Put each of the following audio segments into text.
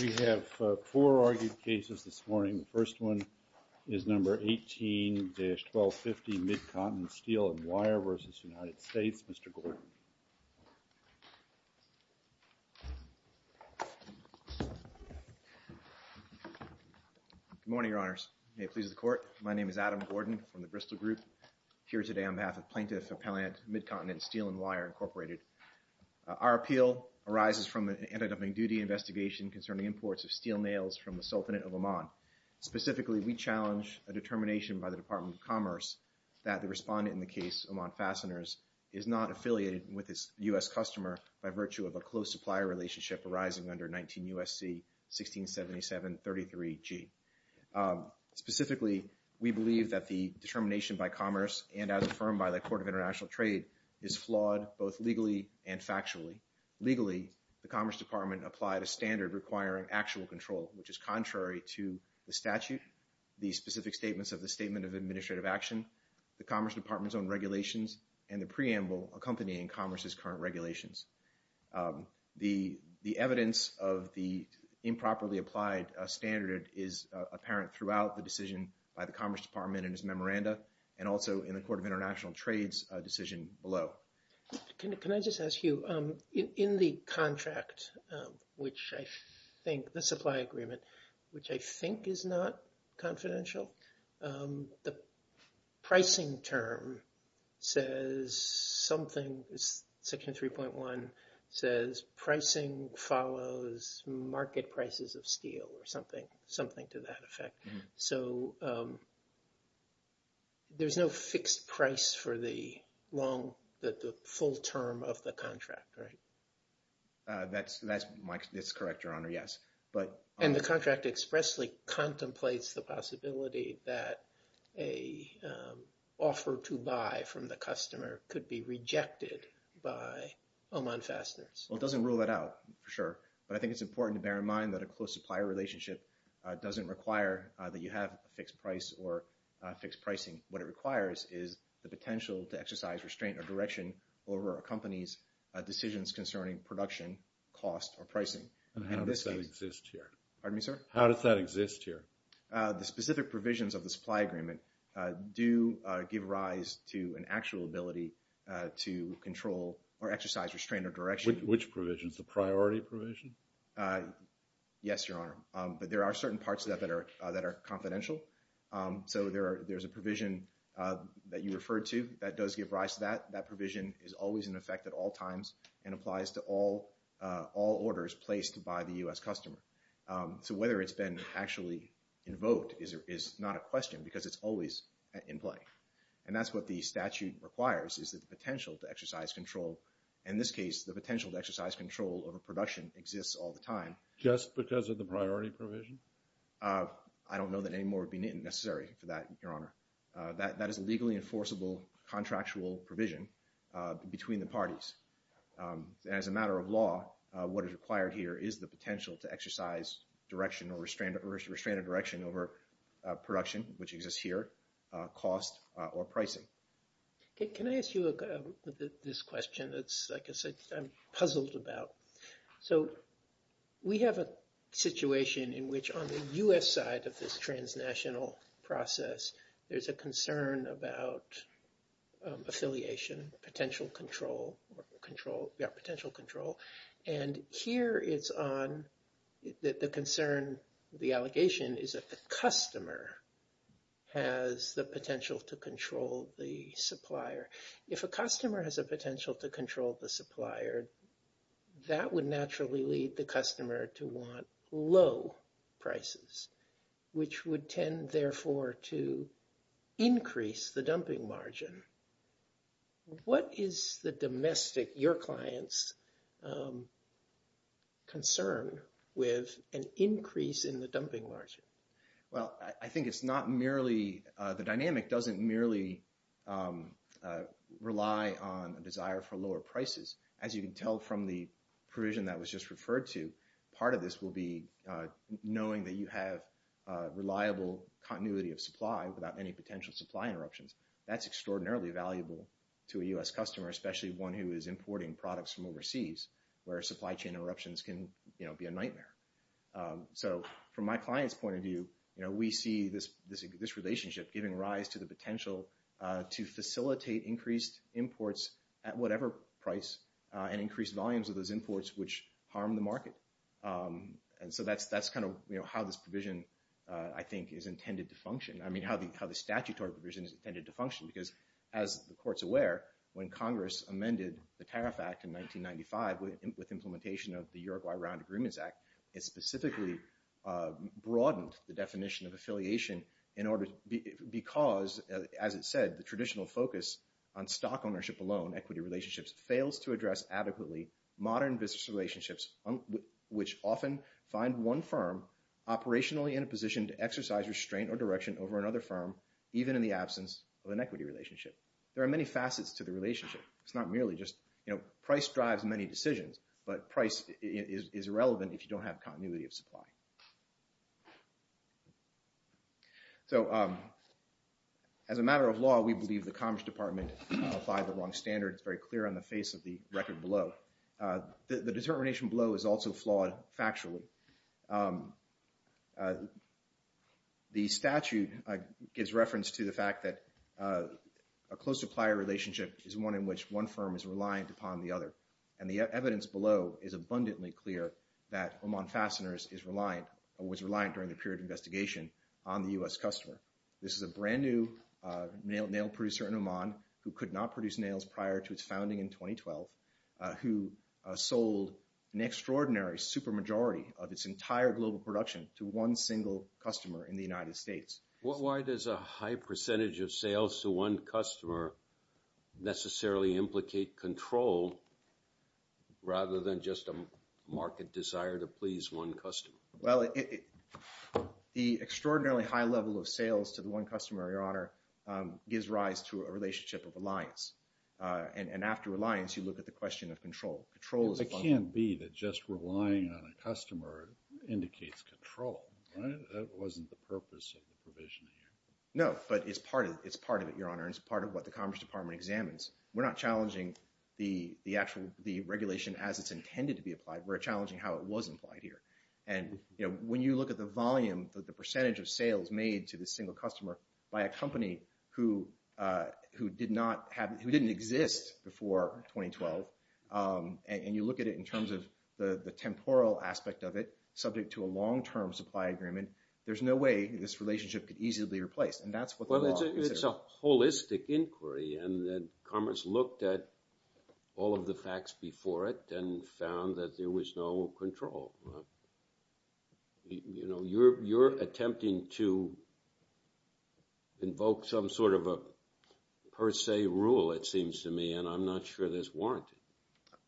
We have four argued cases this morning. The first one is number 18-1250 Mid-Continent Steel & Wire v. United States. Mr. Gordon. Good morning, Your Honors. May it please the Court. My name is Adam Gordon from the Bristol Group. I'm here today on behalf of Plaintiff Appellant Mid-Continent Steel & Wire, Incorporated. Our appeal arises from an anti-dumping duty investigation concerning imports of steel nails from the Sultanate of Oman. Specifically, we challenge a determination by the Department of Commerce that the respondent in the case, Oman Fasteners, is not affiliated with a U.S. customer by virtue of a close supplier relationship arising under 19 U.S.C. 1677-33-G. Specifically, we believe that the determination by Commerce and as affirmed by the Court of International Trade is flawed both legally and factually. Legally, the Commerce Department applied a standard requiring actual control, which is contrary to the statute, the specific statements of the Statement of Administrative Action, the Commerce Department's own regulations, and the preamble accompanying Commerce's current regulations. The evidence of the improperly applied standard is apparent throughout the decision by the Commerce Department in its memoranda and also in the Court of International Trade's decision below. Can I just ask you, in the contract, which I think the supply agreement, which I think is not confidential, the pricing term says something, Section 3.1 says pricing follows market prices of steel or something to that effect. So there's no fixed price for the full term of the contract, right? That's correct, Your Honor, yes. And the contract expressly contemplates the possibility that an offer to buy from the customer could be rejected by Oman Fasteners. Well, it doesn't rule that out, for sure. But I think it's important to bear in mind that a close supplier relationship doesn't require that you have a fixed price or fixed pricing. What it requires is the potential to exercise restraint or direction over a company's decisions concerning production, cost, or pricing. And how does that exist here? Pardon me, sir? How does that exist here? The specific provisions of the supply agreement do give rise to an actual ability to control or exercise restraint or direction. Which provisions, the priority provision? Yes, Your Honor. But there are certain parts of that that are confidential. So there's a provision that you referred to that does give rise to that. That provision is always in effect at all times and applies to all orders placed by the U.S. customer. So whether it's been actually invoked is not a question because it's always in play. And that's what the statute requires is the potential to exercise control. In this case, the potential to exercise control over production exists all the time. Just because of the priority provision? I don't know that any more would be necessary for that, Your Honor. That is a legally enforceable contractual provision between the parties. And as a matter of law, what is required here is the potential to exercise direction or restraint or direction over production, which exists here, cost, or pricing. Can I ask you this question that's, like I said, I'm puzzled about? So we have a situation in which on the U.S. side of this transnational process, there's a concern about affiliation, potential control. And here it's on the concern, the allegation is that the customer has the potential to control the supplier. If a customer has a potential to control the supplier, that would naturally lead the customer to want low prices, which would tend, therefore, to increase the dumping margin. What is the domestic, your client's, concern with an increase in the dumping margin? Well, I think it's not merely – the dynamic doesn't merely rely on a desire for lower prices. As you can tell from the provision that was just referred to, part of this will be knowing that you have reliable continuity of supply without any potential supply interruptions. That's extraordinarily valuable to a U.S. customer, especially one who is importing products from overseas, where supply chain interruptions can be a nightmare. So from my client's point of view, we see this relationship giving rise to the potential to facilitate increased imports at whatever price and increased volumes of those imports, which harm the market. And so that's kind of how this provision, I think, is intended to function. It specifically broadened the definition of affiliation in order – because, as it said, the traditional focus on stock ownership alone, equity relationships, fails to address adequately modern business relationships, which often find one firm operationally in a position to exercise restraint or direction over another firm, even in the absence of an equity relationship. There are many facets to the relationship. It's not merely just – price drives many decisions, but price is irrelevant if you don't have continuity of supply. So as a matter of law, we believe the Commerce Department applied the wrong standard. It's very clear on the face of the record below. The determination below is also flawed factually. The statute gives reference to the fact that a close supplier relationship is one in which one firm is reliant upon the other. And the evidence below is abundantly clear that Oman Fasteners is reliant or was reliant during the period of investigation on the U.S. customer. This is a brand-new nail producer in Oman who could not produce nails prior to its founding in 2012, who sold an extraordinary supermajority of its entire global production to one single customer in the United States. Why does a high percentage of sales to one customer necessarily implicate control rather than just a market desire to please one customer? Well, the extraordinarily high level of sales to the one customer, Your Honor, gives rise to a relationship of reliance. And after reliance, you look at the question of control. Control is abundant. It can't be that just relying on a customer indicates control, right? That wasn't the purpose of the provision here. No, but it's part of it, Your Honor, and it's part of what the Commerce Department examines. We're not challenging the regulation as it's intended to be applied. We're challenging how it was implied here. And when you look at the volume, the percentage of sales made to this single customer by a company who didn't exist before 2012, and you look at it in terms of the temporal aspect of it, subject to a long-term supply agreement, there's no way this relationship could easily be replaced. Well, it's a holistic inquiry, and Commerce looked at all of the facts before it and found that there was no control. You're attempting to invoke some sort of a per se rule, it seems to me, and I'm not sure there's warranty.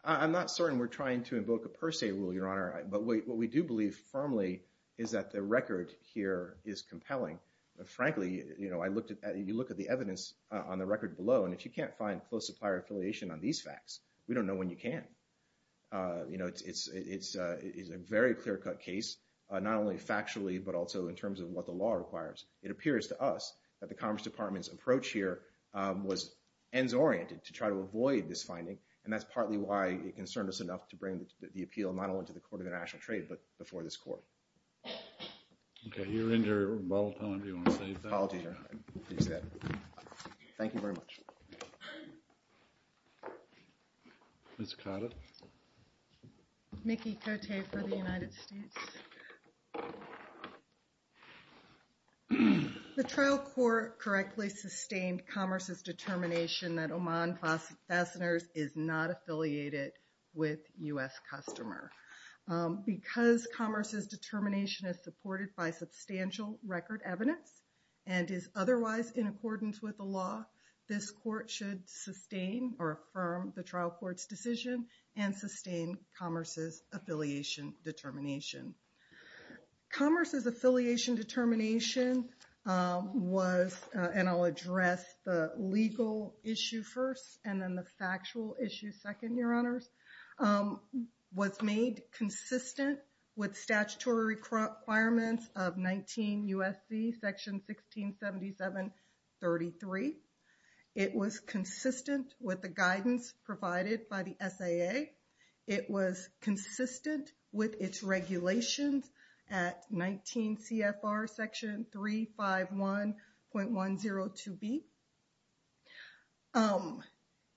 I'm not certain we're trying to invoke a per se rule, Your Honor. But what we do believe firmly is that the record here is compelling. Frankly, you look at the evidence on the record below, and if you can't find close supplier affiliation on these facts, we don't know when you can. It's a very clear-cut case, not only factually but also in terms of what the law requires. It appears to us that the Commerce Department's approach here was ends-oriented to try to avoid this finding, and that's partly why it concerned us enough to bring the appeal not only to the Court of International Trade but before this Court. Okay, you're in your ball time. Do you want to save that? Apologies, Your Honor. I didn't mean to use that. Thank you very much. Ms. Cotter? Mickey Cote for the United States. The trial court correctly sustained Commerce's determination that Oman Fasteners is not affiliated with U.S. customer. Because Commerce's determination is supported by substantial record evidence and is otherwise in accordance with the law, this Court should sustain or affirm the trial court's decision and sustain Commerce's affiliation determination. Commerce's affiliation determination was—and I'll address the legal issue first and then the factual issue second, Your Honors— was made consistent with statutory requirements of 19 U.S.C. section 1677-33. It was consistent with the guidance provided by the SAA. It was consistent with its regulations at 19 C.F.R. section 351.102b.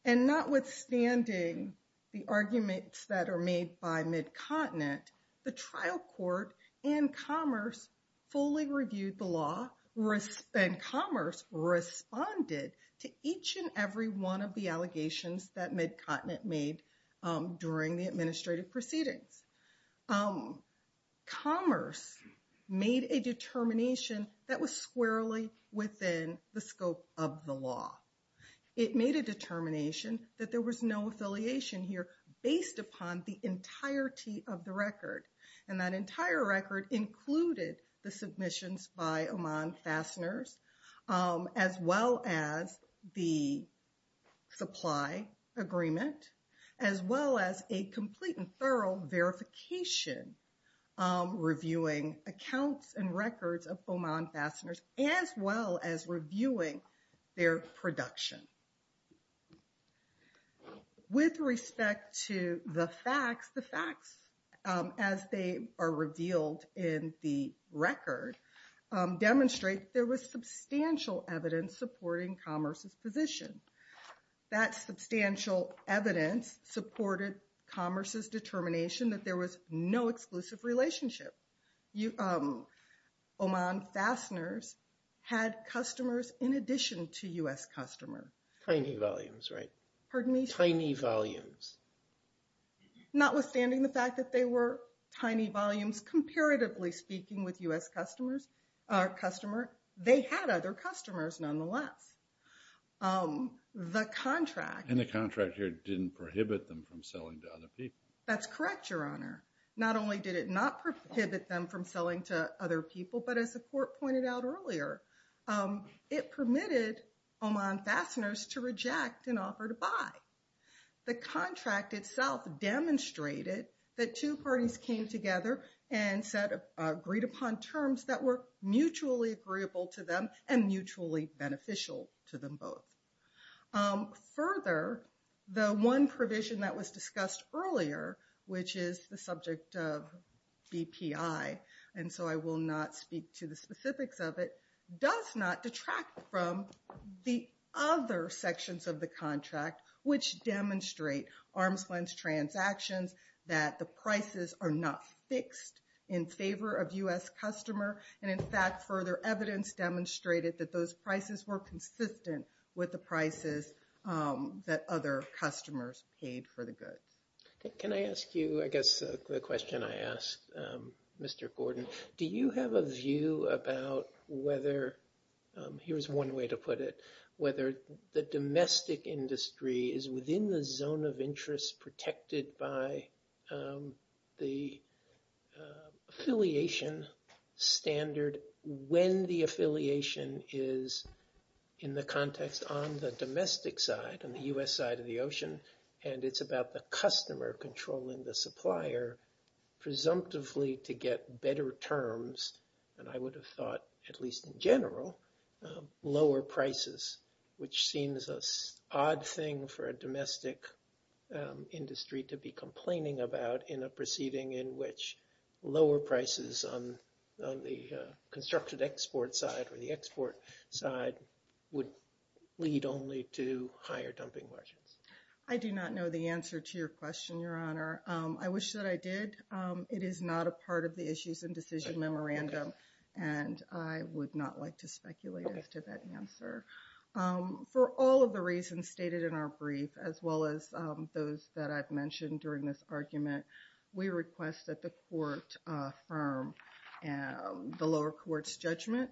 And notwithstanding the arguments that are made by Mid-Continent, the trial court and Commerce fully reviewed the law and Commerce responded to each and every one of the allegations that Mid-Continent made during the administrative proceedings. Commerce made a determination that was squarely within the scope of the law. It made a determination that there was no affiliation here based upon the entirety of the record. And that entire record included the submissions by Oman Fasteners, as well as the supply agreement, as well as a complete and thorough verification reviewing accounts and records of Oman Fasteners, as well as reviewing their production. With respect to the facts, the facts, as they are revealed in the record, demonstrate there was substantial evidence supporting Commerce's position. That substantial evidence supported Commerce's determination that there was no exclusive relationship. Oman Fasteners had customers in addition to U.S. customers. Tiny volumes, right? Pardon me? Tiny volumes. Notwithstanding the fact that they were tiny volumes, comparatively speaking, with U.S. customers, they had other customers nonetheless. The contract... And the contract here didn't prohibit them from selling to other people. That's correct, Your Honor. Not only did it not prohibit them from selling to other people, but as the Court pointed out earlier, it permitted Oman Fasteners to reject an offer to buy. The contract itself demonstrated that two parties came together and agreed upon terms that were mutually agreeable to them and mutually beneficial to them both. Further, the one provision that was discussed earlier, which is the subject of BPI, and so I will not speak to the specifics of it, does not detract from the other sections of the contract, which demonstrate arm's-length transactions, that the prices are not fixed in favor of U.S. customer, and, in fact, further evidence demonstrated that those prices were consistent with the prices that other customers paid for the goods. Can I ask you, I guess, the question I asked Mr. Gordon, do you have a view about whether, here's one way to put it, whether the domestic industry is within the zone of interest protected by the affiliation standard when the affiliation is in the context on the domestic side, on the U.S. side of the ocean, and it's about the customer controlling the supplier, presumptively to get better terms, and I would have thought, at least in general, lower prices, which seems an odd thing for a domestic industry to be complaining about in a proceeding in which lower prices on the constructed export side or the export side would lead only to higher dumping budgets. I do not know the answer to your question, Your Honor. I wish that I did. It is not a part of the issues and decision memorandum, and I would not like to speculate as to that answer. For all of the reasons stated in our brief, as well as those that I've mentioned during this argument, we request that the court affirm the lower court's judgment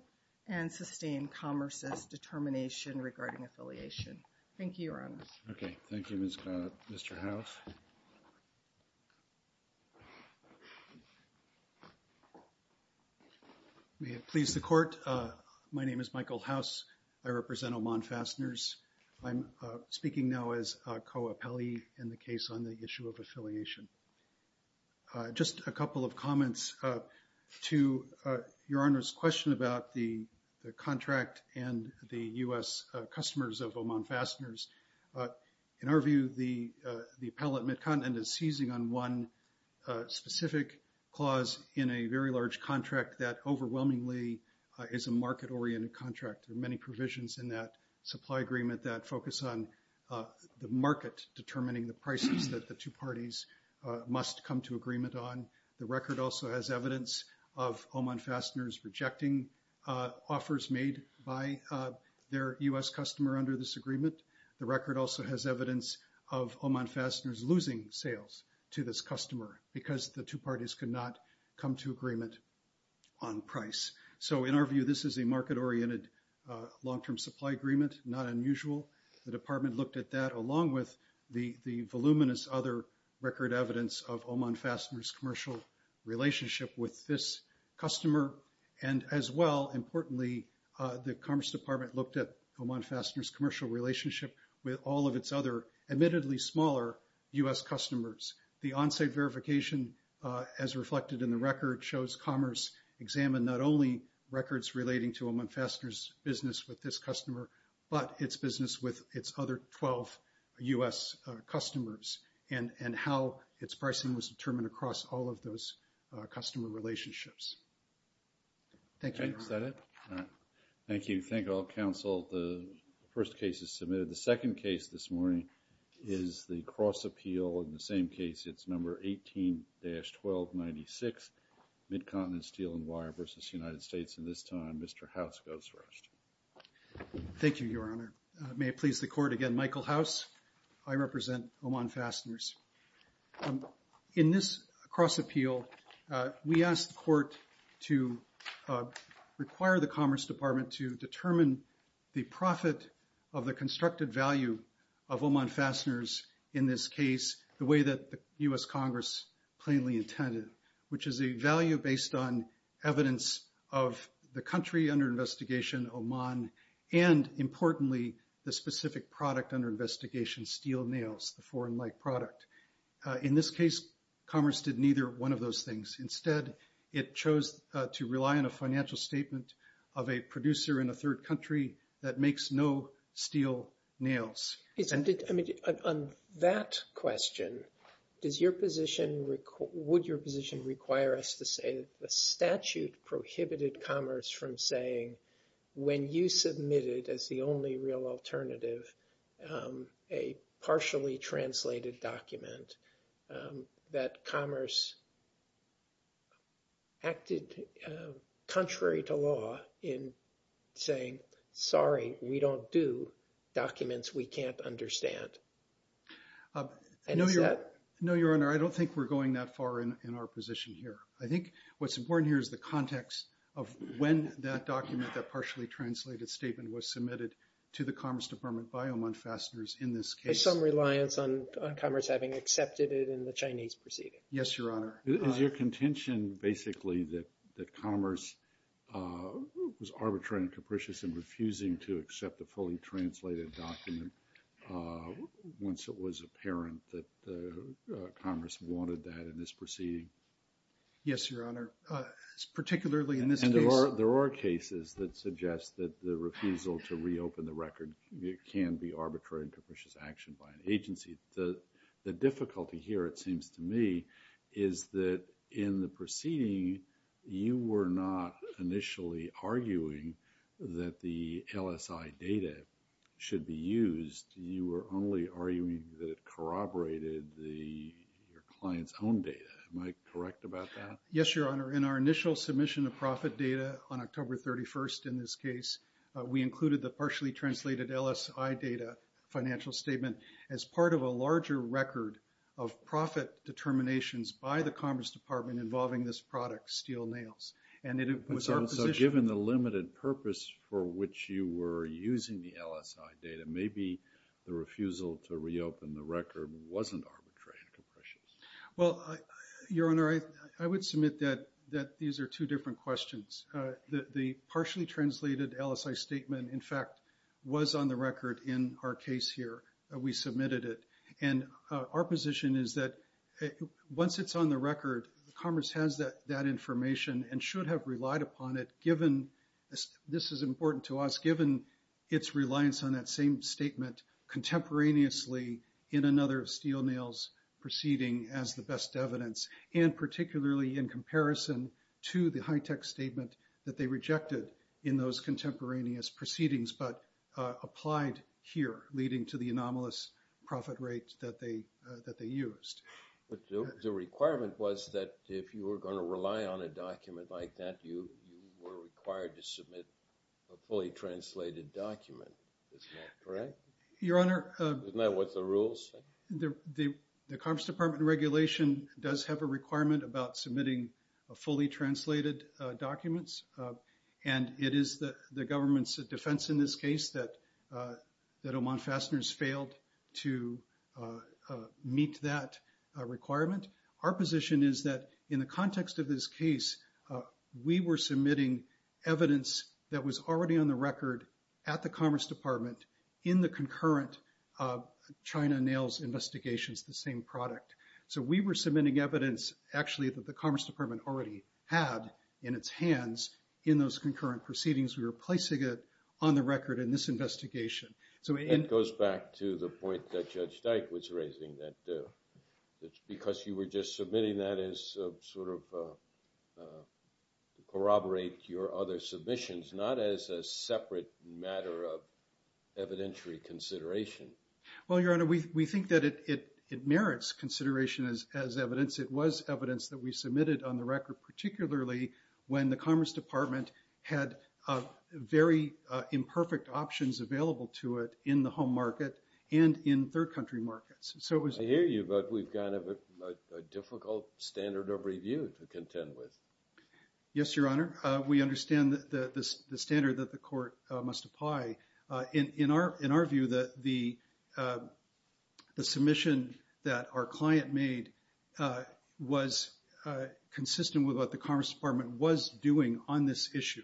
and sustain Commerce's determination regarding affiliation. Thank you, Your Honor. Okay. Thank you, Mr. House. May it please the Court. My name is Michael House. I represent Oman Fasteners. I'm speaking now as a co-appellee in the case on the issue of affiliation. Just a couple of comments to Your Honor's question about the contract and the U.S. customers of Oman Fasteners. In our view, the appellate Midcontinent is seizing on one specific clause in a very large contract that overwhelmingly is a market-oriented contract. There are many provisions in that supply agreement that focus on the market determining the prices that the two parties must come to agreement on. The record also has evidence of Oman Fasteners rejecting offers made by their U.S. customer under this agreement. The record also has evidence of Oman Fasteners losing sales to this customer because the two parties could not come to agreement on price. So in our view, this is a market-oriented long-term supply agreement, not unusual. The Department looked at that along with the voluminous other record evidence of Oman Fasteners' commercial relationship with this customer. And as well, importantly, the Commerce Department looked at Oman Fasteners' commercial relationship with all of its other admittedly smaller U.S. customers. The on-site verification, as reflected in the record, shows Commerce examined not only records relating to Oman Fasteners' business with this customer, but its business with its other 12 U.S. customers and how its pricing was determined across all of those customer relationships. Thank you. Is that it? All right. Thank you. Thank you all, counsel. The first case is submitted. The second case this morning is the cross-appeal. In the same case, it's number 18-1296, Mid-Continent Steel & Wire v. United States. And this time, Mr. House goes first. Thank you, Your Honor. May it please the Court again. Michael House, I represent Oman Fasteners. In this cross-appeal, we asked the Court to require the Commerce Department to determine the profit of the constructed value of Oman Fasteners in this case, the way that the U.S. Congress plainly intended, which is a value based on evidence of the country under investigation, Oman, and, importantly, the specific product under investigation, steel nails, the foreign-like product. In this case, Commerce did neither one of those things. Instead, it chose to rely on a financial statement of a producer in a third country that makes no steel nails. On that question, would your position require us to say that the statute prohibited commerce from saying when you submitted as the only real alternative a partially translated document that commerce acted contrary to law in saying, sorry, we don't do documents we can't understand? No, Your Honor, I don't think we're going that far in our position here. I think what's important here is the context of when that document, that partially translated statement, was submitted to the Commerce Department by Oman Fasteners in this case. There is some reliance on Commerce having accepted it in the Chinese proceeding. Yes, Your Honor. Is your contention basically that Commerce was arbitrary and capricious in refusing to accept the fully translated document once it was apparent that Commerce wanted that in this proceeding? Yes, Your Honor, particularly in this case. There are cases that suggest that the refusal to reopen the record can be arbitrary and capricious action by an agency. The difficulty here, it seems to me, is that in the proceeding, you were not initially arguing that the LSI data should be used. You were only arguing that it corroborated the client's own data. Am I correct about that? Yes, Your Honor. In our initial submission of profit data on October 31st in this case, we included the partially translated LSI data financial statement as part of a larger record of profit determinations by the Commerce Department involving this product, Steel Nails. So given the limited purpose for which you were using the LSI data, maybe the refusal to reopen the record wasn't arbitrary and capricious. Well, Your Honor, I would submit that these are two different questions. The partially translated LSI statement, in fact, was on the record in our case here. We submitted it. And our position is that once it's on the record, Commerce has that information and should have relied upon it, given this is important to us, given its reliance on that same statement contemporaneously in another Steel Nails proceeding as the best evidence, and particularly in comparison to the high-tech statement that they rejected in those contemporaneous proceedings but applied here, leading to the anomalous profit rate that they used. But the requirement was that if you were going to rely on a document like that, you were required to submit a fully translated document. Is that correct? Your Honor. Isn't that what the rules say? The Commerce Department regulation does have a requirement about submitting fully translated documents, and it is the government's defense in this case that Oman Fasteners failed to meet that requirement. Our position is that in the context of this case, we were submitting evidence that was already on the record at the Commerce Department in the concurrent China Nails investigations, the same product. So we were submitting evidence, actually, that the Commerce Department already had in its hands in those concurrent proceedings. We were placing it on the record in this investigation. That goes back to the point that Judge Dyke was raising, that it's because you were just submitting that as sort of corroborate your other submissions, not as a separate matter of evidentiary consideration. Well, Your Honor, we think that it merits consideration as evidence. It was evidence that we submitted on the record, particularly when the Commerce Department had very imperfect options available to it in the home market and in third country markets. I hear you, but we've got a difficult standard of review to contend with. Yes, Your Honor. We understand the standard that the court must apply. In our view, the submission that our client made was consistent with what the Commerce Department was doing on this issue.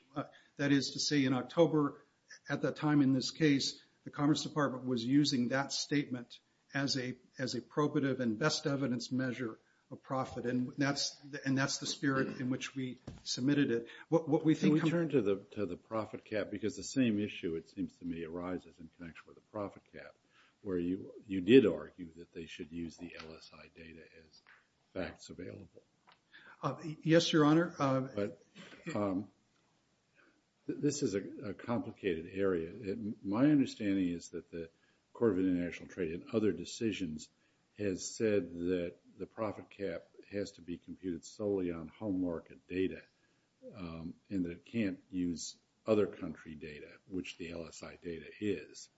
That is to say, in October, at that time in this case, the Commerce Department was using that statement as a probative and best evidence measure of profit, and that's the spirit in which we submitted it. Can we turn to the profit cap? Because the same issue, it seems to me, arises in connection with the profit cap, where you did argue that they should use the LSI data as facts available. Yes, Your Honor. This is a complicated area. My understanding is that the Court of International Trade and other decisions has said that the profit cap has to be computed solely on home market data and that it can't use other country data, which the LSI data is.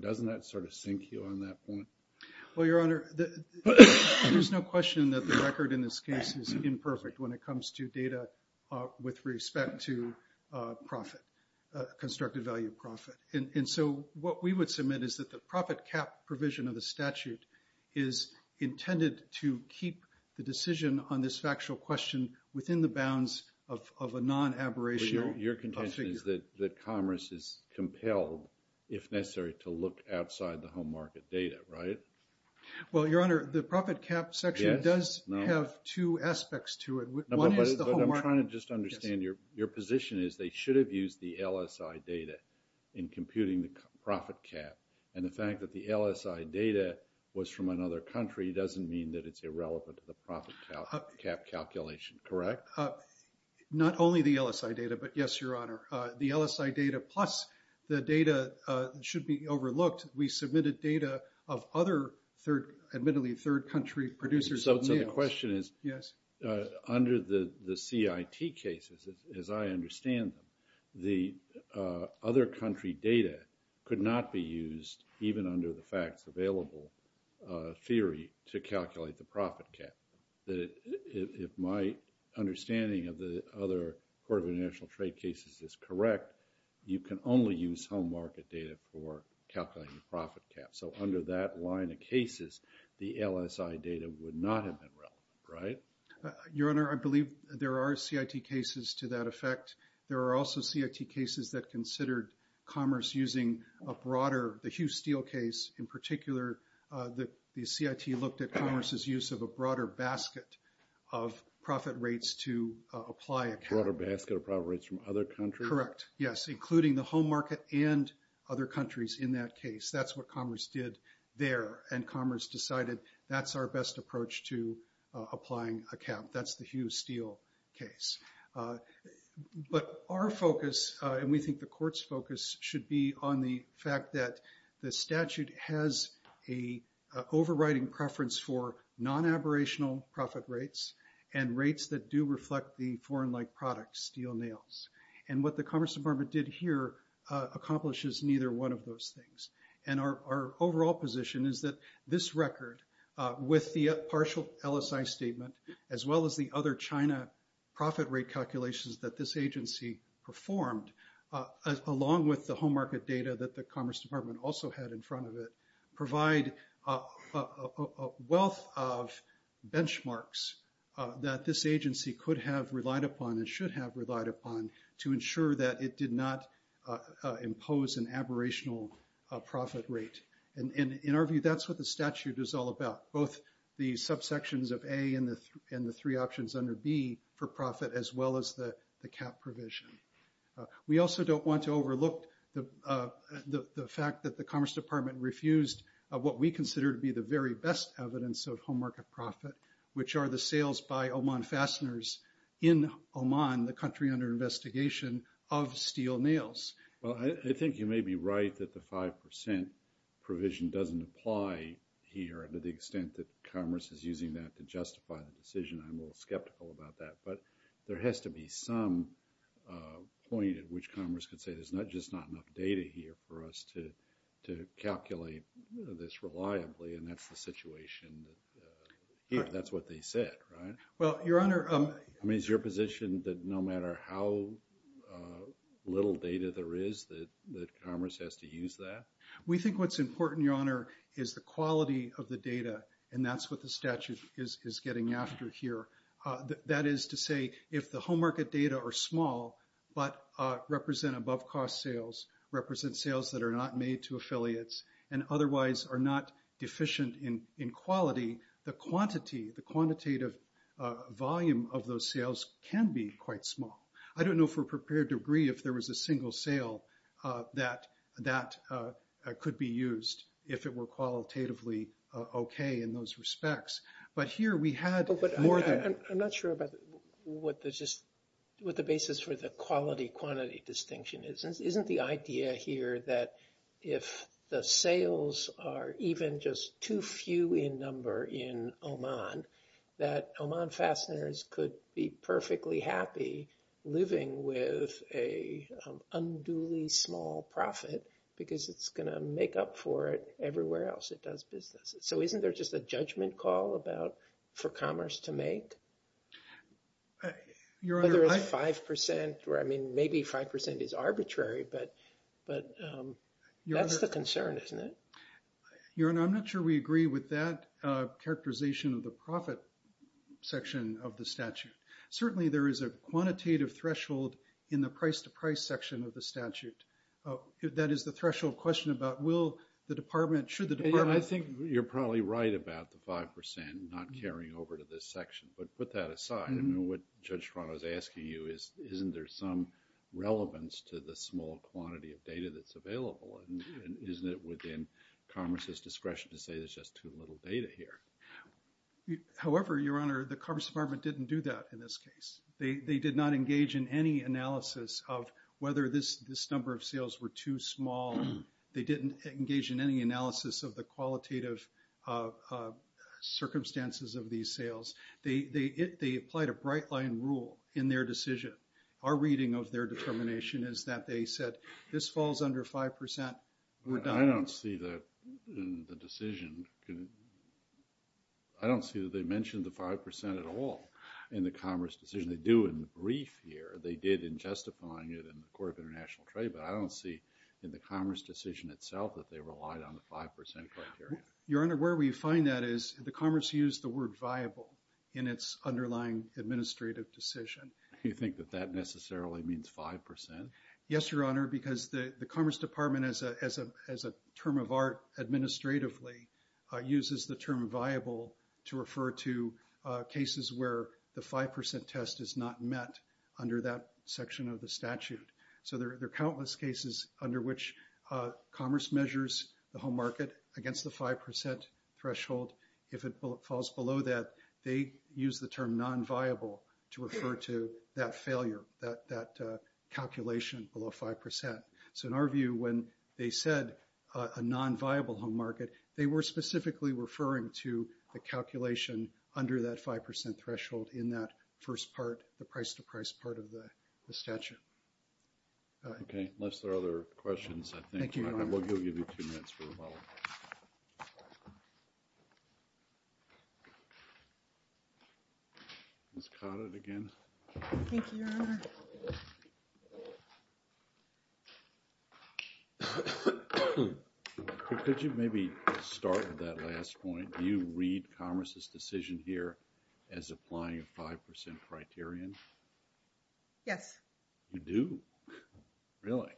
Doesn't that sort of sink you on that point? Well, Your Honor, there's no question that the record in this case is imperfect when it comes to data with respect to profit, constructed value of profit. And so what we would submit is that the profit cap provision of the statute is intended to keep the decision on this factual question within the bounds of a non-aberrational figure. Your contention is that Commerce is compelled, if necessary, to look outside the home market data, right? Well, Your Honor, the profit cap section does have two aspects to it. But I'm trying to just understand. Your position is they should have used the LSI data in computing the profit cap. And the fact that the LSI data was from another country doesn't mean that it's irrelevant to the profit cap calculation, correct? Not only the LSI data, but yes, Your Honor, the LSI data plus the data should be overlooked. We submitted data of other third, admittedly third country producers. So the question is, under the CIT cases, as I understand them, the other country data could not be used, even under the facts available theory, to calculate the profit cap. If my understanding of the other Court of International Trade cases is correct, you can only use home market data for calculating the profit cap. So under that line of cases, the LSI data would not have been relevant, right? Your Honor, I believe there are CIT cases to that effect. There are also CIT cases that considered Commerce using a broader, the Hugh Steele case in particular, the CIT looked at Commerce's use of a broader basket of profit rates to apply a cap. A broader basket of profit rates from other countries? Correct, yes, including the home market and other countries in that case. That's what Commerce did there, and Commerce decided that's our best approach to applying a cap. That's the Hugh Steele case. But our focus, and we think the Court's focus, should be on the fact that the statute has a overriding preference for non-aborational profit rates and rates that do reflect the foreign-like product, steel nails. And what the Commerce Department did here accomplishes neither one of those things. And our overall position is that this record, with the partial LSI statement, as well as the other China profit rate calculations that this agency performed, along with the home market data that the Commerce Department also had in front of it, provide a wealth of benchmarks that this agency could have relied upon and should have relied upon to ensure that it did not impose an aborational profit rate. And in our view, that's what the statute is all about, both the subsections of A and the three options under B for profit, as well as the cap provision. We also don't want to overlook the fact that the Commerce Department refused what we consider to be the very best evidence of home market profit, which are the sales by Oman fasteners in Oman, the country under investigation, of steel nails. Well, I think you may be right that the 5% provision doesn't apply here, to the extent that Commerce is using that to justify the decision. I'm a little skeptical about that, but there has to be some point at which Commerce could say, there's just not enough data here for us to calculate this reliably, and that's the situation that's what they said, right? Well, Your Honor, I mean, is your position that no matter how little data there is, that Commerce has to use that? We think what's important, Your Honor, is the quality of the data, and that's what the statute is getting after here. That is to say, if the home market data are small, but represent above-cost sales, represent sales that are not made to affiliates, and otherwise are not deficient in quality, the quantity, the quantitative volume of those sales can be quite small. I don't know if we're prepared to agree if there was a single sale that could be used, if it were qualitatively okay in those respects. But here we had more than... I'm not sure about what the basis for the quality-quantity distinction is. Isn't the idea here that if the sales are even just too few in number in Oman, that Oman fasteners could be perfectly happy living with an unduly small profit, because it's going to make up for it everywhere else it does business? So isn't there just a judgment call for Commerce to make? Whether it's 5% or, I mean, maybe 5% is arbitrary, but that's the concern, isn't it? Your Honor, I'm not sure we agree with that characterization of the profit section of the statute. Certainly there is a quantitative threshold in the price-to-price section of the statute. That is the threshold question about will the department, should the department... I think you're probably right about the 5% not carrying over to this section, but put that aside. What Judge Toronto is asking you is, isn't there some relevance to the small quantity of data that's available? Isn't it within Commerce's discretion to say there's just too little data here? However, Your Honor, the Commerce Department didn't do that in this case. They did not engage in any analysis of whether this number of sales were too small. They didn't engage in any analysis of the qualitative circumstances of these sales. They applied a bright-line rule in their decision. Our reading of their determination is that they said this falls under 5% redundancy. I don't see that in the decision. I don't see that they mentioned the 5% at all in the Commerce decision. They do in the brief here. They did in justifying it in the Court of International Trade, but I don't see in the Commerce decision itself that they relied on the 5% criteria. Your Honor, where we find that is the Commerce used the word viable in its underlying administrative decision. You think that that necessarily means 5%? Yes, Your Honor, because the Commerce Department, as a term of art administratively, uses the term viable to refer to cases where the 5% test is not met under that section of the statute. There are countless cases under which Commerce measures the home market against the 5% threshold. If it falls below that, they use the term non-viable to refer to that failure, that calculation below 5%. So in our view, when they said a non-viable home market, they were specifically referring to the calculation under that 5% threshold in that first part, the price-to-price part of the statute. Okay, unless there are other questions, I will give you two minutes for rebuttal. Could you maybe start with that last point? Do you read Commerce's decision here as applying a 5% criterion? Yes. You do? Really?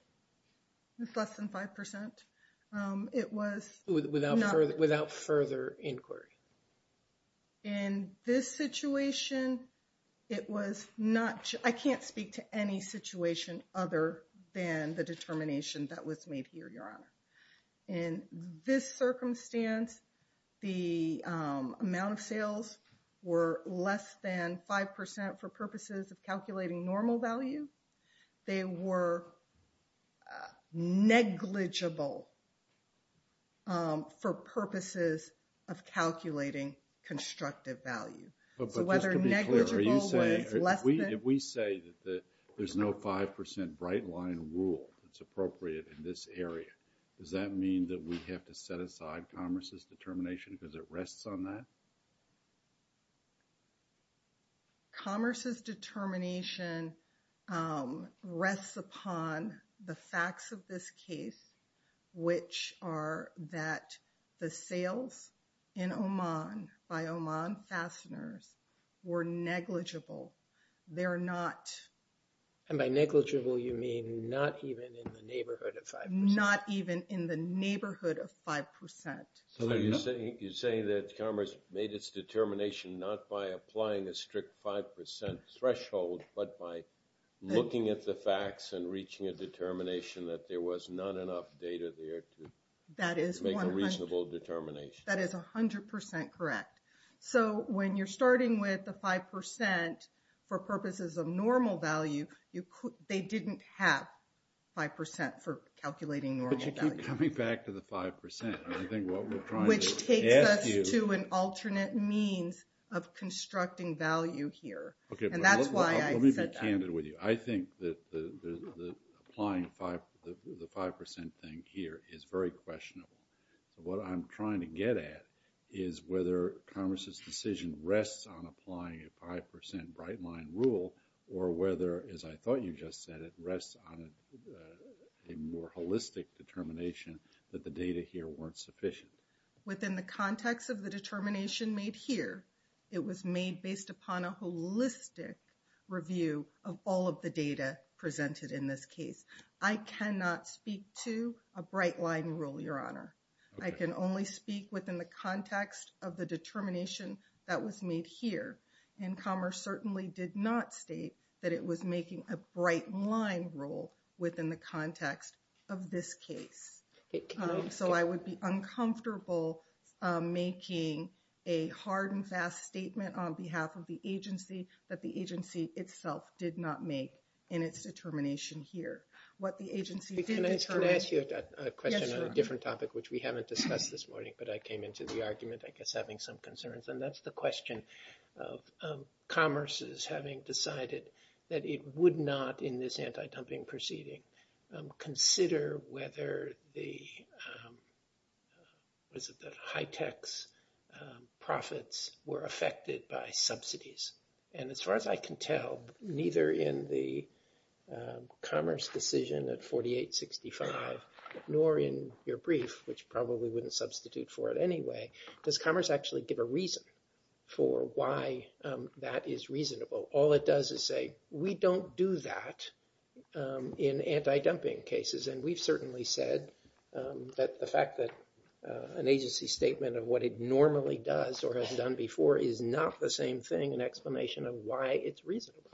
It's less than 5%. It was... Without further inquiry? In this situation, it was not... I can't speak to any situation other than the determination that was made here, Your Honor. In this circumstance, the amount of sales were less than 5% for purposes of calculating normal value. They were negligible for purposes of calculating constructive value. So whether negligible was less than... If we say that there's no 5% bright line rule that's appropriate in this area, does that mean that we have to set aside Commerce's determination because it rests on that? Commerce's determination rests upon the facts of this case, which are that the sales in Oman by Oman fasteners were negligible. They're not... And by negligible, you mean not even in the neighborhood of 5%? Not even in the neighborhood of 5%. So you're saying that Commerce made its determination not by applying a strict 5% threshold, but by looking at the facts and reaching a determination that there was not enough data there to make a reasonable determination. That is 100% correct. So when you're starting with the 5% for purposes of normal value, they didn't have 5% for calculating normal value. But you keep coming back to the 5%. I think what we're trying to ask you... Which takes us to an alternate means of constructing value here. Let me be candid with you. I think that applying the 5% thing here is very questionable. What I'm trying to get at is whether Commerce's decision rests on applying a 5% bright line rule or whether, as I thought you just said, it rests on a more holistic determination that the data here weren't sufficient. Within the context of the determination made here, it was made based upon a holistic review of all of the data presented in this case. I cannot speak to a bright line rule, Your Honor. I can only speak within the context of the determination that was made here. And Commerce certainly did not state that it was making a bright line rule within the context of this case. So I would be uncomfortable making a hard and fast statement on behalf of the agency that the agency itself did not make in its determination here. Can I ask you a question on a different topic, which we haven't discussed this morning, but I came into the argument, I guess, having some concerns. And that's the question of Commerce's having decided that it would not, in this anti-dumping proceeding, consider whether the high-tech's profits were affected by subsidies. And as far as I can tell, neither in the Commerce decision at 4865 nor in your brief, which probably wouldn't substitute for it anyway, does Commerce actually give a reason for why that is reasonable. All it does is say, we don't do that in anti-dumping cases. And we've certainly said that the fact that an agency statement of what it normally does or has done before is not the same thing, an explanation of why it's reasonable.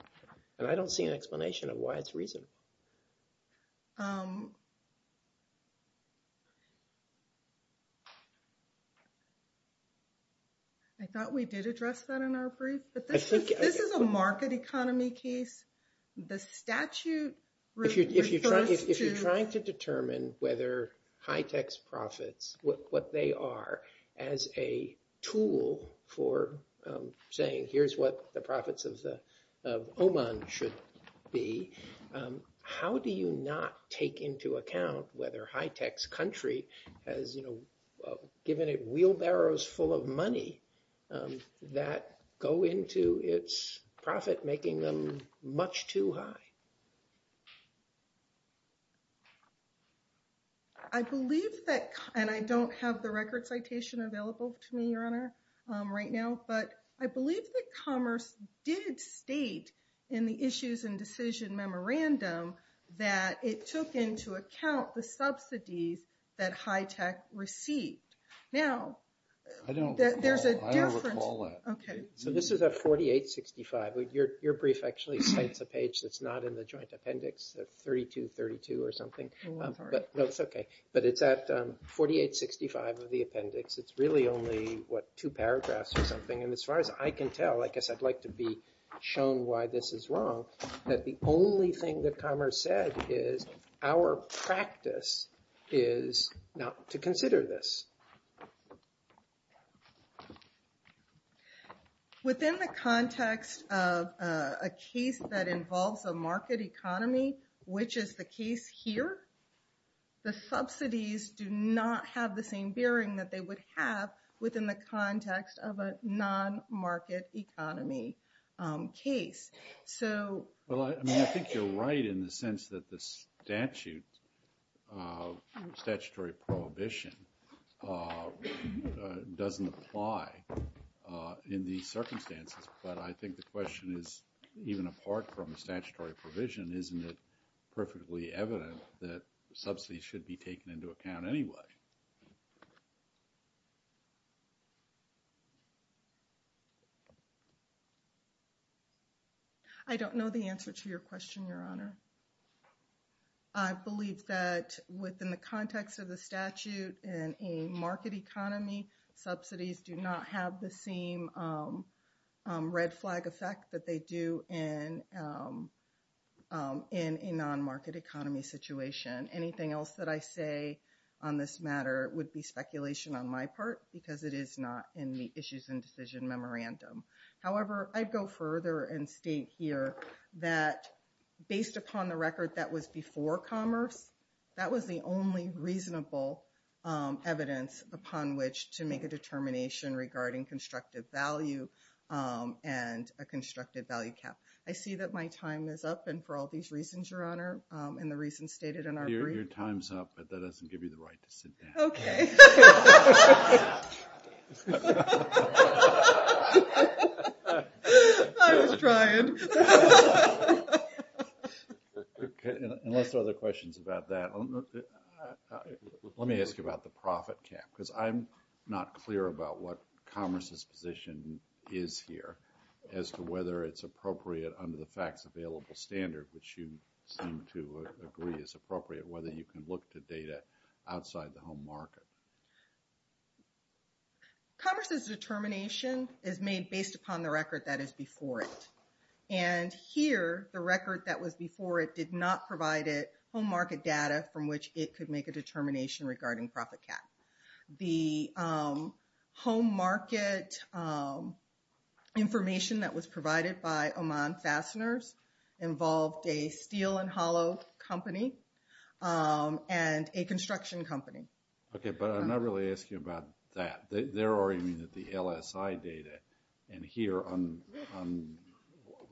And I don't see an explanation of why it's reasonable. I thought we did address that in our brief. But this is a market economy case. The statute refers to- If you're trying to determine whether high-tech's profits, what they are, as a tool for saying, here's what the profits of Oman should be, how do you not take into account whether high-tech's country has given it wheelbarrows full of money that go into its profit, making them much too high? I believe that, and I don't have the record citation available to me, Your Honor, right now, but I believe that Commerce did state in the issues and decision memorandum that it took into account the subsidies that high-tech received. Now, there's a different- I don't recall that. Okay. So this is at 4865. Your brief actually cites a page that's not in the joint appendix, 3232 or something. Oh, I'm sorry. No, it's okay. But it's at 4865 of the appendix. It's really only, what, two paragraphs or something. And as far as I can tell, I guess I'd like to be shown why this is wrong, that the only thing that Commerce said is, our practice is not to consider this. Within the context of a case that involves a market economy, which is the case here, the subsidies do not have the same bearing that they would have within the context of a non-market economy case. Well, I mean, I think you're right in the sense that the statute, statutory prohibition, doesn't apply in these circumstances. But I think the question is, even apart from the statutory provision, isn't it perfectly evident that subsidies should be taken into account anyway? I don't know the answer to your question, Your Honor. I believe that within the context of the statute in a market economy, subsidies do not have the same red flag effect that they do in a non-market economy situation. Anything else that I say on this matter would be speculation on my part, because it is not in the issues and decision memorandum. However, I'd go further and state here that, based upon the record that was before Commerce, that was the only reasonable evidence upon which to make a determination regarding constructive value and a constructive value cap. I see that my time is up, and for all these reasons, Your Honor, and the reasons stated in our brief. Your time's up, but that doesn't give you the right to sit down. Okay. I was trying. Unless there are other questions about that. Let me ask you about the profit cap, because I'm not clear about what Commerce's position is here, as to whether it's appropriate under the FACTS available standard, which you seem to agree is appropriate, whether you can look to data outside the home market. Commerce's determination is made based upon the record that is before it. And here, the record that was before it did not provide it home market data from which it could make a determination regarding profit cap. The home market information that was provided by Oman Fasteners involved a steel and hollow company and a construction company. Okay, but I'm not really asking about that. They're arguing that the LSI data, and here,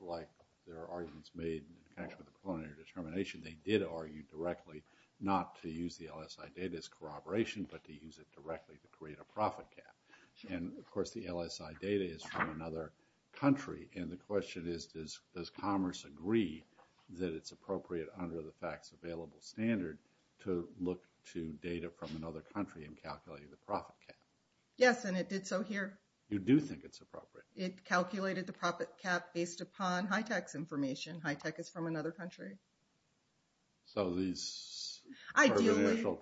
like their arguments made in connection with the preliminary determination, they did argue directly not to use the LSI data as corroboration, but to use it directly to create a profit cap. And, of course, the LSI data is from another country, and the question is, does Commerce agree that it's appropriate under the FACTS available standard to look to data from another country and calculate the profit cap? Yes, and it did so here. You do think it's appropriate? It calculated the profit cap based upon HITECH's information. HITECH is from another country. So, these are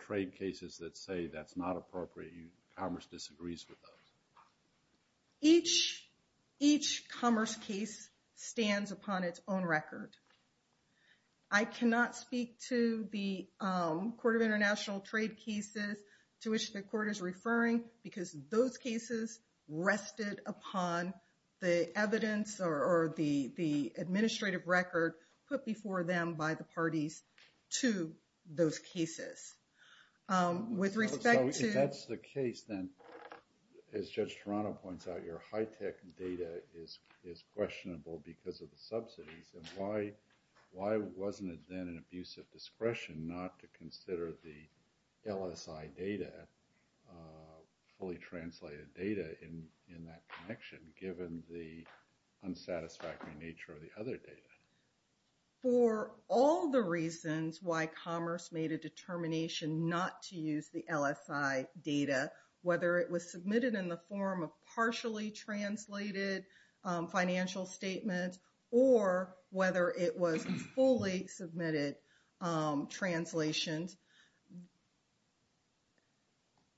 trade cases that say that's not appropriate. Commerce disagrees with those? Each Commerce case stands upon its own record. I cannot speak to the Court of International Trade cases to which the Court is referring, because those cases rested upon the evidence or the administrative record put before them by the parties to those cases. So, if that's the case, then, as Judge Toronto points out, your HITECH data is questionable because of the subsidies, and why wasn't it then an abuse of discretion not to consider the LSI data, fully translated data in that connection, given the unsatisfactory nature of the other data? For all the reasons why Commerce made a determination not to use the LSI data, whether it was submitted in the form of partially translated financial statements, or whether it was fully submitted translations,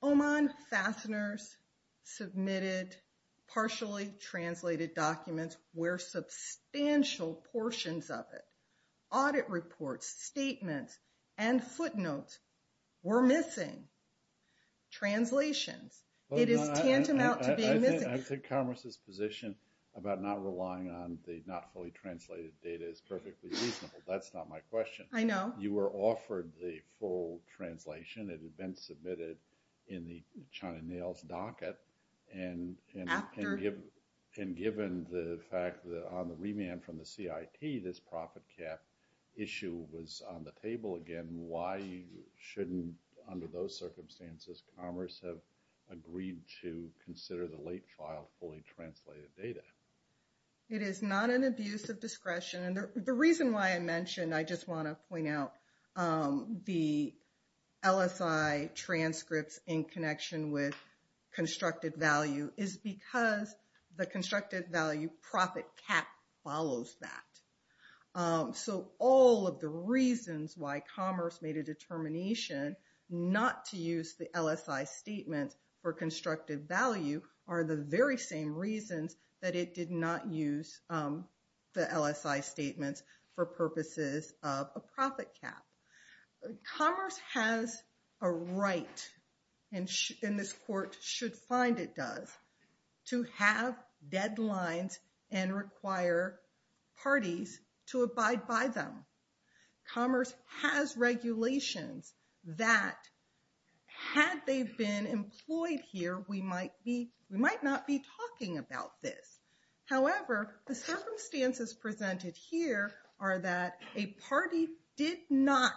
Oman fasteners submitted partially translated documents where substantial portions of it, audit reports, statements, and footnotes were missing. Translations. It is tantamount to being missing. I think Commerce's position about not relying on the not fully translated data is perfectly reasonable. That's not my question. I know. You were offered the full translation. It had been submitted in the China Nails docket, and given the fact that on the remand from the CIT, this profit cap issue was on the table again, why shouldn't, under those circumstances, Commerce have agreed to consider the late trial fully translated data? It is not an abuse of discretion. And the reason why I mentioned, I just want to point out, the LSI transcripts in connection with constructed value is because the constructed value profit cap follows that. So all of the reasons why Commerce made a determination not to use the LSI statements for constructed value are the very same reasons that it did not use the LSI statements for purposes of a profit cap. Commerce has a right, and this court should find it does, to have deadlines and require parties to abide by them. Commerce has regulations that, had they been employed here, we might not be talking about this. However, the circumstances presented here are that a party did not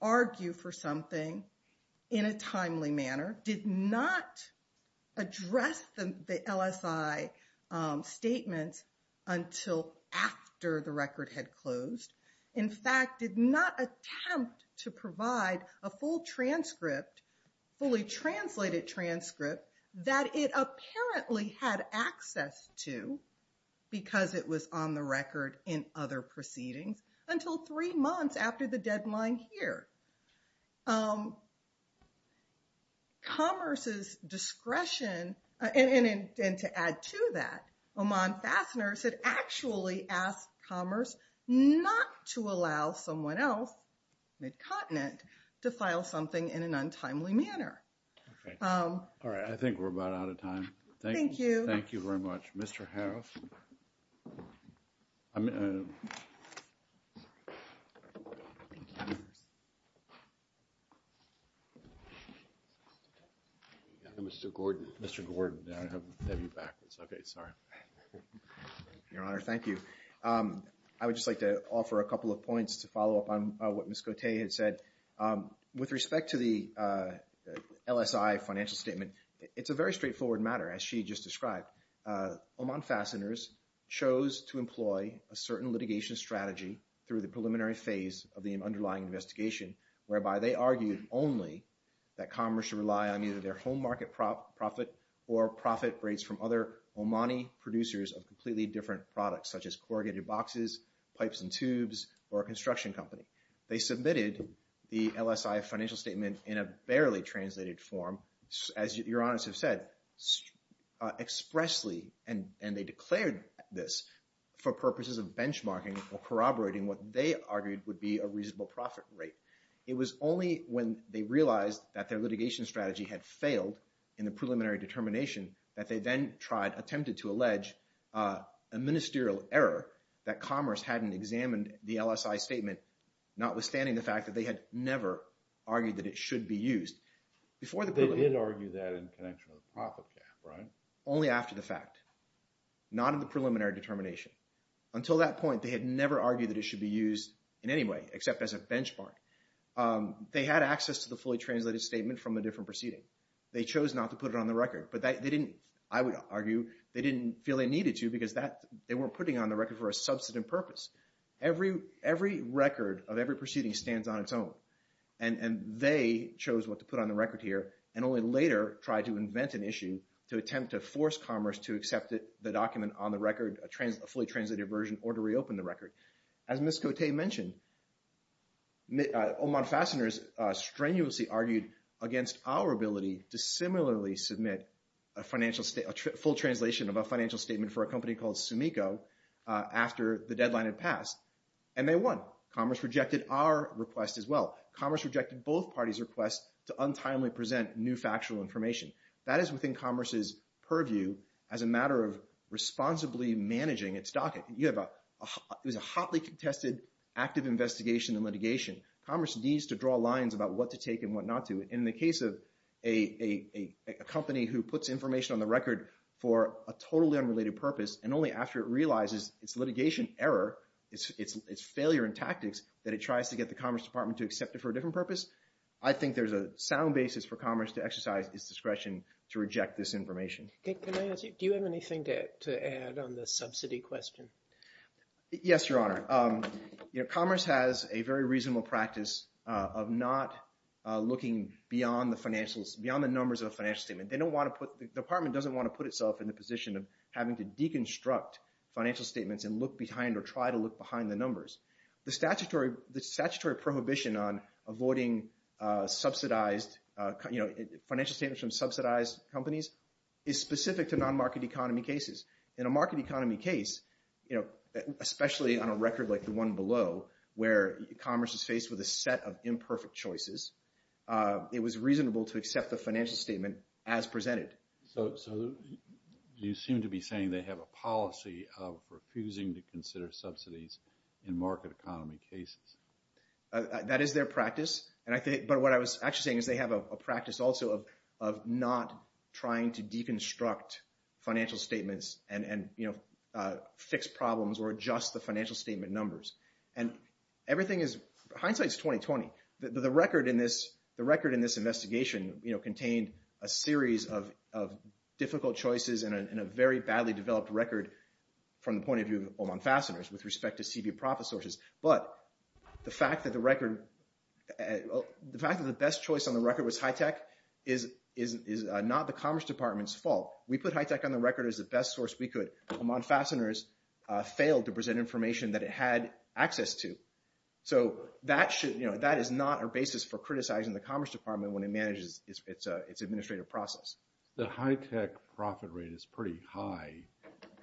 argue for something in a timely manner, did not address the LSI statements until after the record had closed. In fact, did not attempt to provide a full transcript, fully translated transcript, that it apparently had access to, because it was on the record in other proceedings, until three months after the deadline here. Commerce's discretion, and to add to that, Oman Fasteners had actually asked Commerce not to allow someone else, midcontinent, to file something in an untimely manner. All right, I think we're about out of time. Thank you. Thank you very much. Mr. Harris? Mr. Gordon. Mr. Gordon. I have you backwards. Okay, sorry. Your Honor, thank you. I would just like to offer a couple of points to follow up on what Ms. Cote had said. With respect to the LSI financial statement, it's a very straightforward matter, as she just described. Oman Fasteners chose to employ a certain litigation strategy through the preliminary phase of the underlying investigation, whereby they argued only that Commerce should rely on either their home market profit or profit rates from other Omani producers of completely different products, such as corrugated boxes, pipes and tubes, or a construction company. They submitted the LSI financial statement in a barely translated form. As Your Honors have said, expressly, and they declared this for purposes of benchmarking or corroborating what they argued would be a reasonable profit rate. It was only when they realized that their litigation strategy had failed in the preliminary determination that they then attempted to allege a ministerial error that Commerce hadn't examined the LSI statement, notwithstanding the fact that they had never argued that it should be used. They did argue that in connection with a profit cap, right? Only after the fact, not in the preliminary determination. Until that point, they had never argued that it should be used in any way except as a benchmark. They had access to the fully translated statement from a different proceeding. They chose not to put it on the record, but they didn't, I would argue, they didn't feel they needed to because they weren't putting it on the record for a substantive purpose. Every record of every proceeding stands on its own, and they chose what to put on the record here and only later tried to invent an issue to attempt to force Commerce to accept the document on the record, a fully translated version, or to reopen the record. As Ms. Cote mentioned, Omar Fassner strenuously argued against our ability to similarly submit a full translation of a financial statement for a company called Sumico after the deadline had passed, and they won. Commerce rejected our request as well. Commerce rejected both parties' requests to untimely present new factual information. That is within Commerce's purview as a matter of responsibly managing its docket. It was a hotly contested active investigation and litigation. Commerce needs to draw lines about what to take and what not to. In the case of a company who puts information on the record for a totally unrelated purpose and only after it realizes its litigation error, its failure in tactics, that it tries to get the Commerce Department to accept it for a different purpose, I think there's a sound basis for Commerce to exercise its discretion to reject this information. Do you have anything to add on the subsidy question? Yes, Your Honor. Commerce has a very reasonable practice of not looking beyond the financials, beyond the numbers of a financial statement. The Department doesn't want to put itself in the position of having to deconstruct financial statements and look behind or try to look behind the numbers. The statutory prohibition on avoiding financial statements from subsidized companies is specific to non-market economy cases. In a market economy case, especially on a record like the one below, where Commerce is faced with a set of imperfect choices, it was reasonable to accept the financial statement as presented. So you seem to be saying they have a policy of refusing to consider subsidies in market economy cases. That is their practice. But what I was actually saying is they have a practice also of not trying to deconstruct financial statements and fix problems or adjust the financial statement numbers. Hindsight is 20-20. The record in this investigation contained a series of difficult choices and a very badly developed record from the point of view of Oman Fasteners with respect to CB profit sources. But the fact that the best choice on the record was HITECH is not the Commerce Department's fault. We put HITECH on the record as the best source we could. Oman Fasteners failed to present information that it had access to. So that is not our basis for criticizing the Commerce Department when it manages its administrative process. The HITECH profit rate is pretty high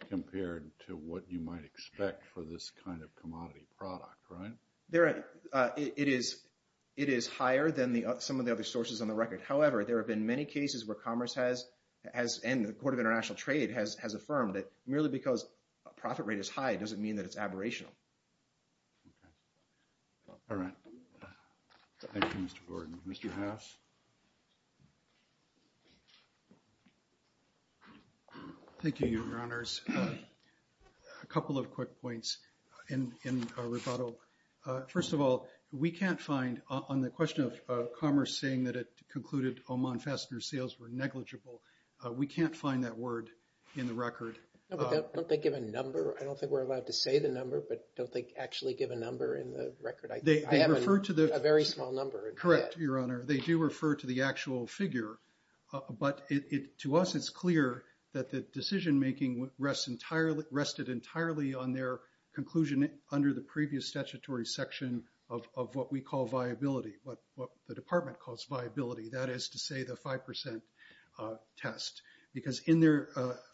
compared to what you might expect for this kind of commodity product, right? It is higher than some of the other sources on the record. However, there have been many cases where Commerce has, and the Court of International Trade has affirmed it. Merely because a profit rate is high doesn't mean that it's aberrational. All right. Thank you, Mr. Gordon. Mr. Haas? Thank you, Your Honors. A couple of quick points in rebuttal. First of all, we can't find on the question of Commerce saying that it concluded Oman Fasteners sales were negligible. We can't find that word in the record. Don't they give a number? I don't think we're allowed to say the number, but don't they actually give a number in the record? I have a very small number. Correct, Your Honor. They do refer to the actual figure. But to us, it's clear that the decision-making rested entirely on their conclusion under the previous statutory section of what we call viability, what the Department calls viability. That is to say the 5% test. Because in their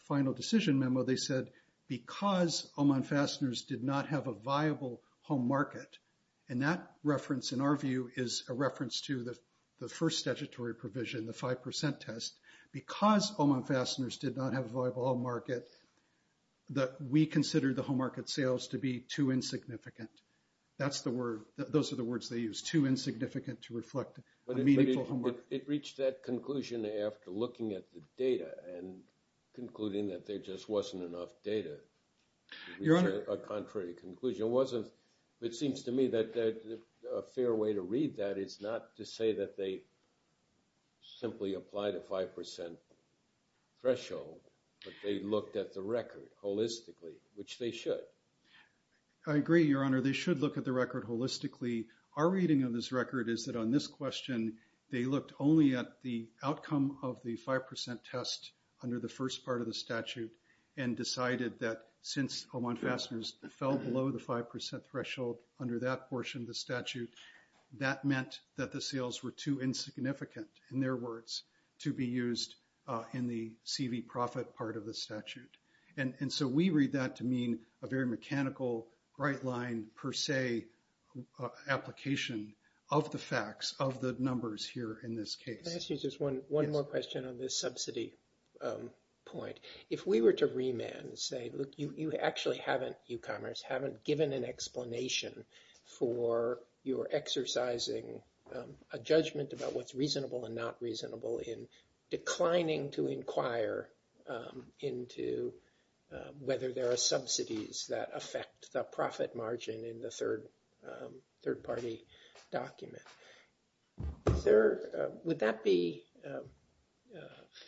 final decision memo, they said, because Oman Fasteners did not have a viable home market, and that reference in our view is a reference to the first statutory provision, the 5% test, because Oman Fasteners did not have a viable home market, that we consider the home market sales to be too insignificant. Those are the words they use, too insignificant to reflect a meaningful home market. But it reached that conclusion after looking at the data and concluding that there just wasn't enough data to reach a contrary conclusion. It seems to me that a fair way to read that is not to say that they simply applied a 5% threshold, but they looked at the record holistically, which they should. I agree, Your Honor. They should look at the record holistically. Our reading of this record is that on this question, they looked only at the outcome of the 5% test under the first part of the statute and decided that since Oman Fasteners fell below the 5% threshold under that portion of the statute, that meant that the sales were too insignificant, in their words, to be used in the CV profit part of the statute. And so we read that to mean a very mechanical right line per se application of the facts, of the numbers here in this case. Can I ask you just one more question on this subsidy point? If we were to remand and say, look, you actually haven't, e-commerce, haven't given an explanation for your exercising a judgment about what's reasonable and not reasonable in declining to inquire into whether there are subsidies that affect the profit margin in the third party document, would that be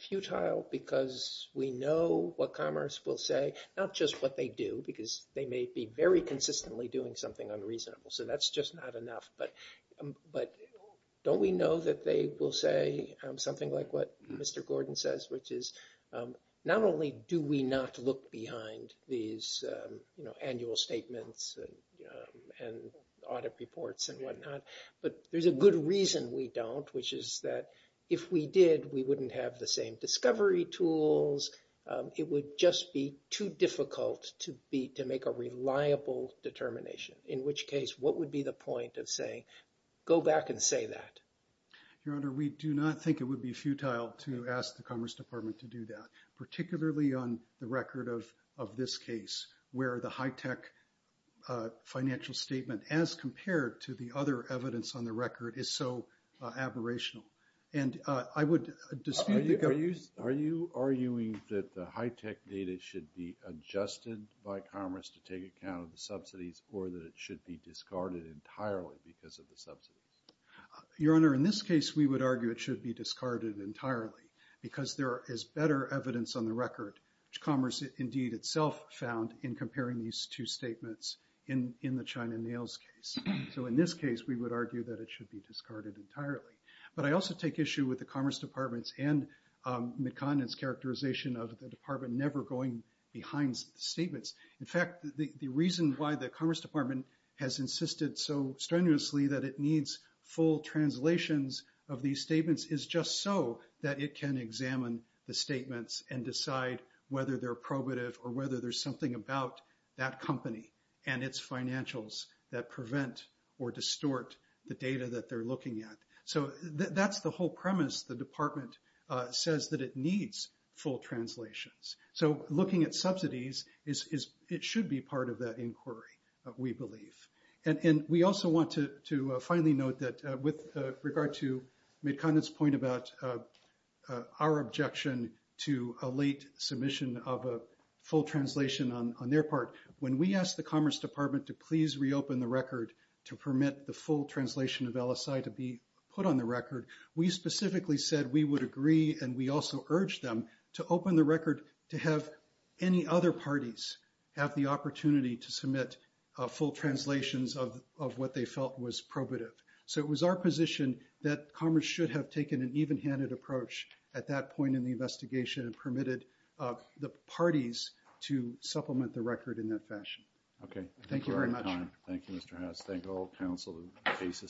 futile because we know what commerce will say, not just what they do, because they may be very consistently doing something unreasonable, so that's just not enough. But don't we know that they will say something like what Mr. Gordon says, which is not only do we not look behind these annual statements and audit reports and whatnot, but there's a good reason we don't, which is that if we did, we wouldn't have the same discovery tools. It would just be too difficult to make a reliable determination, in which case what would be the point of saying go back and say that? Your Honor, we do not think it would be futile to ask the Commerce Department to do that, particularly on the record of this case where the high-tech financial statement, as compared to the other evidence on the record, is so aberrational. And I would dispute the government. Are you arguing that the high-tech data should be adjusted by commerce to take account of the subsidies or that it should be discarded entirely because of the subsidies? Your Honor, in this case, we would argue it should be discarded entirely because there is better evidence on the record, which commerce indeed itself found, in comparing these two statements in the China Nails case. So in this case, we would argue that it should be discarded entirely. But I also take issue with the Commerce Department's and McConnell's characterization of the department never going behind statements. In fact, the reason why the Commerce Department has insisted so strenuously that it needs full translations of these statements is just so that it can examine the statements and decide whether they're probative or whether there's something about that company and its financials that prevent or distort the data that they're looking at. So that's the whole premise. The department says that it needs full translations. So looking at subsidies, it should be part of that inquiry, we believe. And we also want to finally note that with regard to McConnell's point about our objection to a late submission of a full translation on their part, when we asked the Commerce Department to please reopen the record to permit the full translation of LSI to be put on the record, we specifically said we would agree and we also urged them to open the record to have any other parties have the opportunity to submit full translations of what they felt was probative. So it was our position that Commerce should have taken an even-handed approach at that point in the investigation and permitted the parties to supplement the record in that fashion. Okay. Thank you very much. Thank you, Mr. Hess. Thank all counsel. The case is submitted.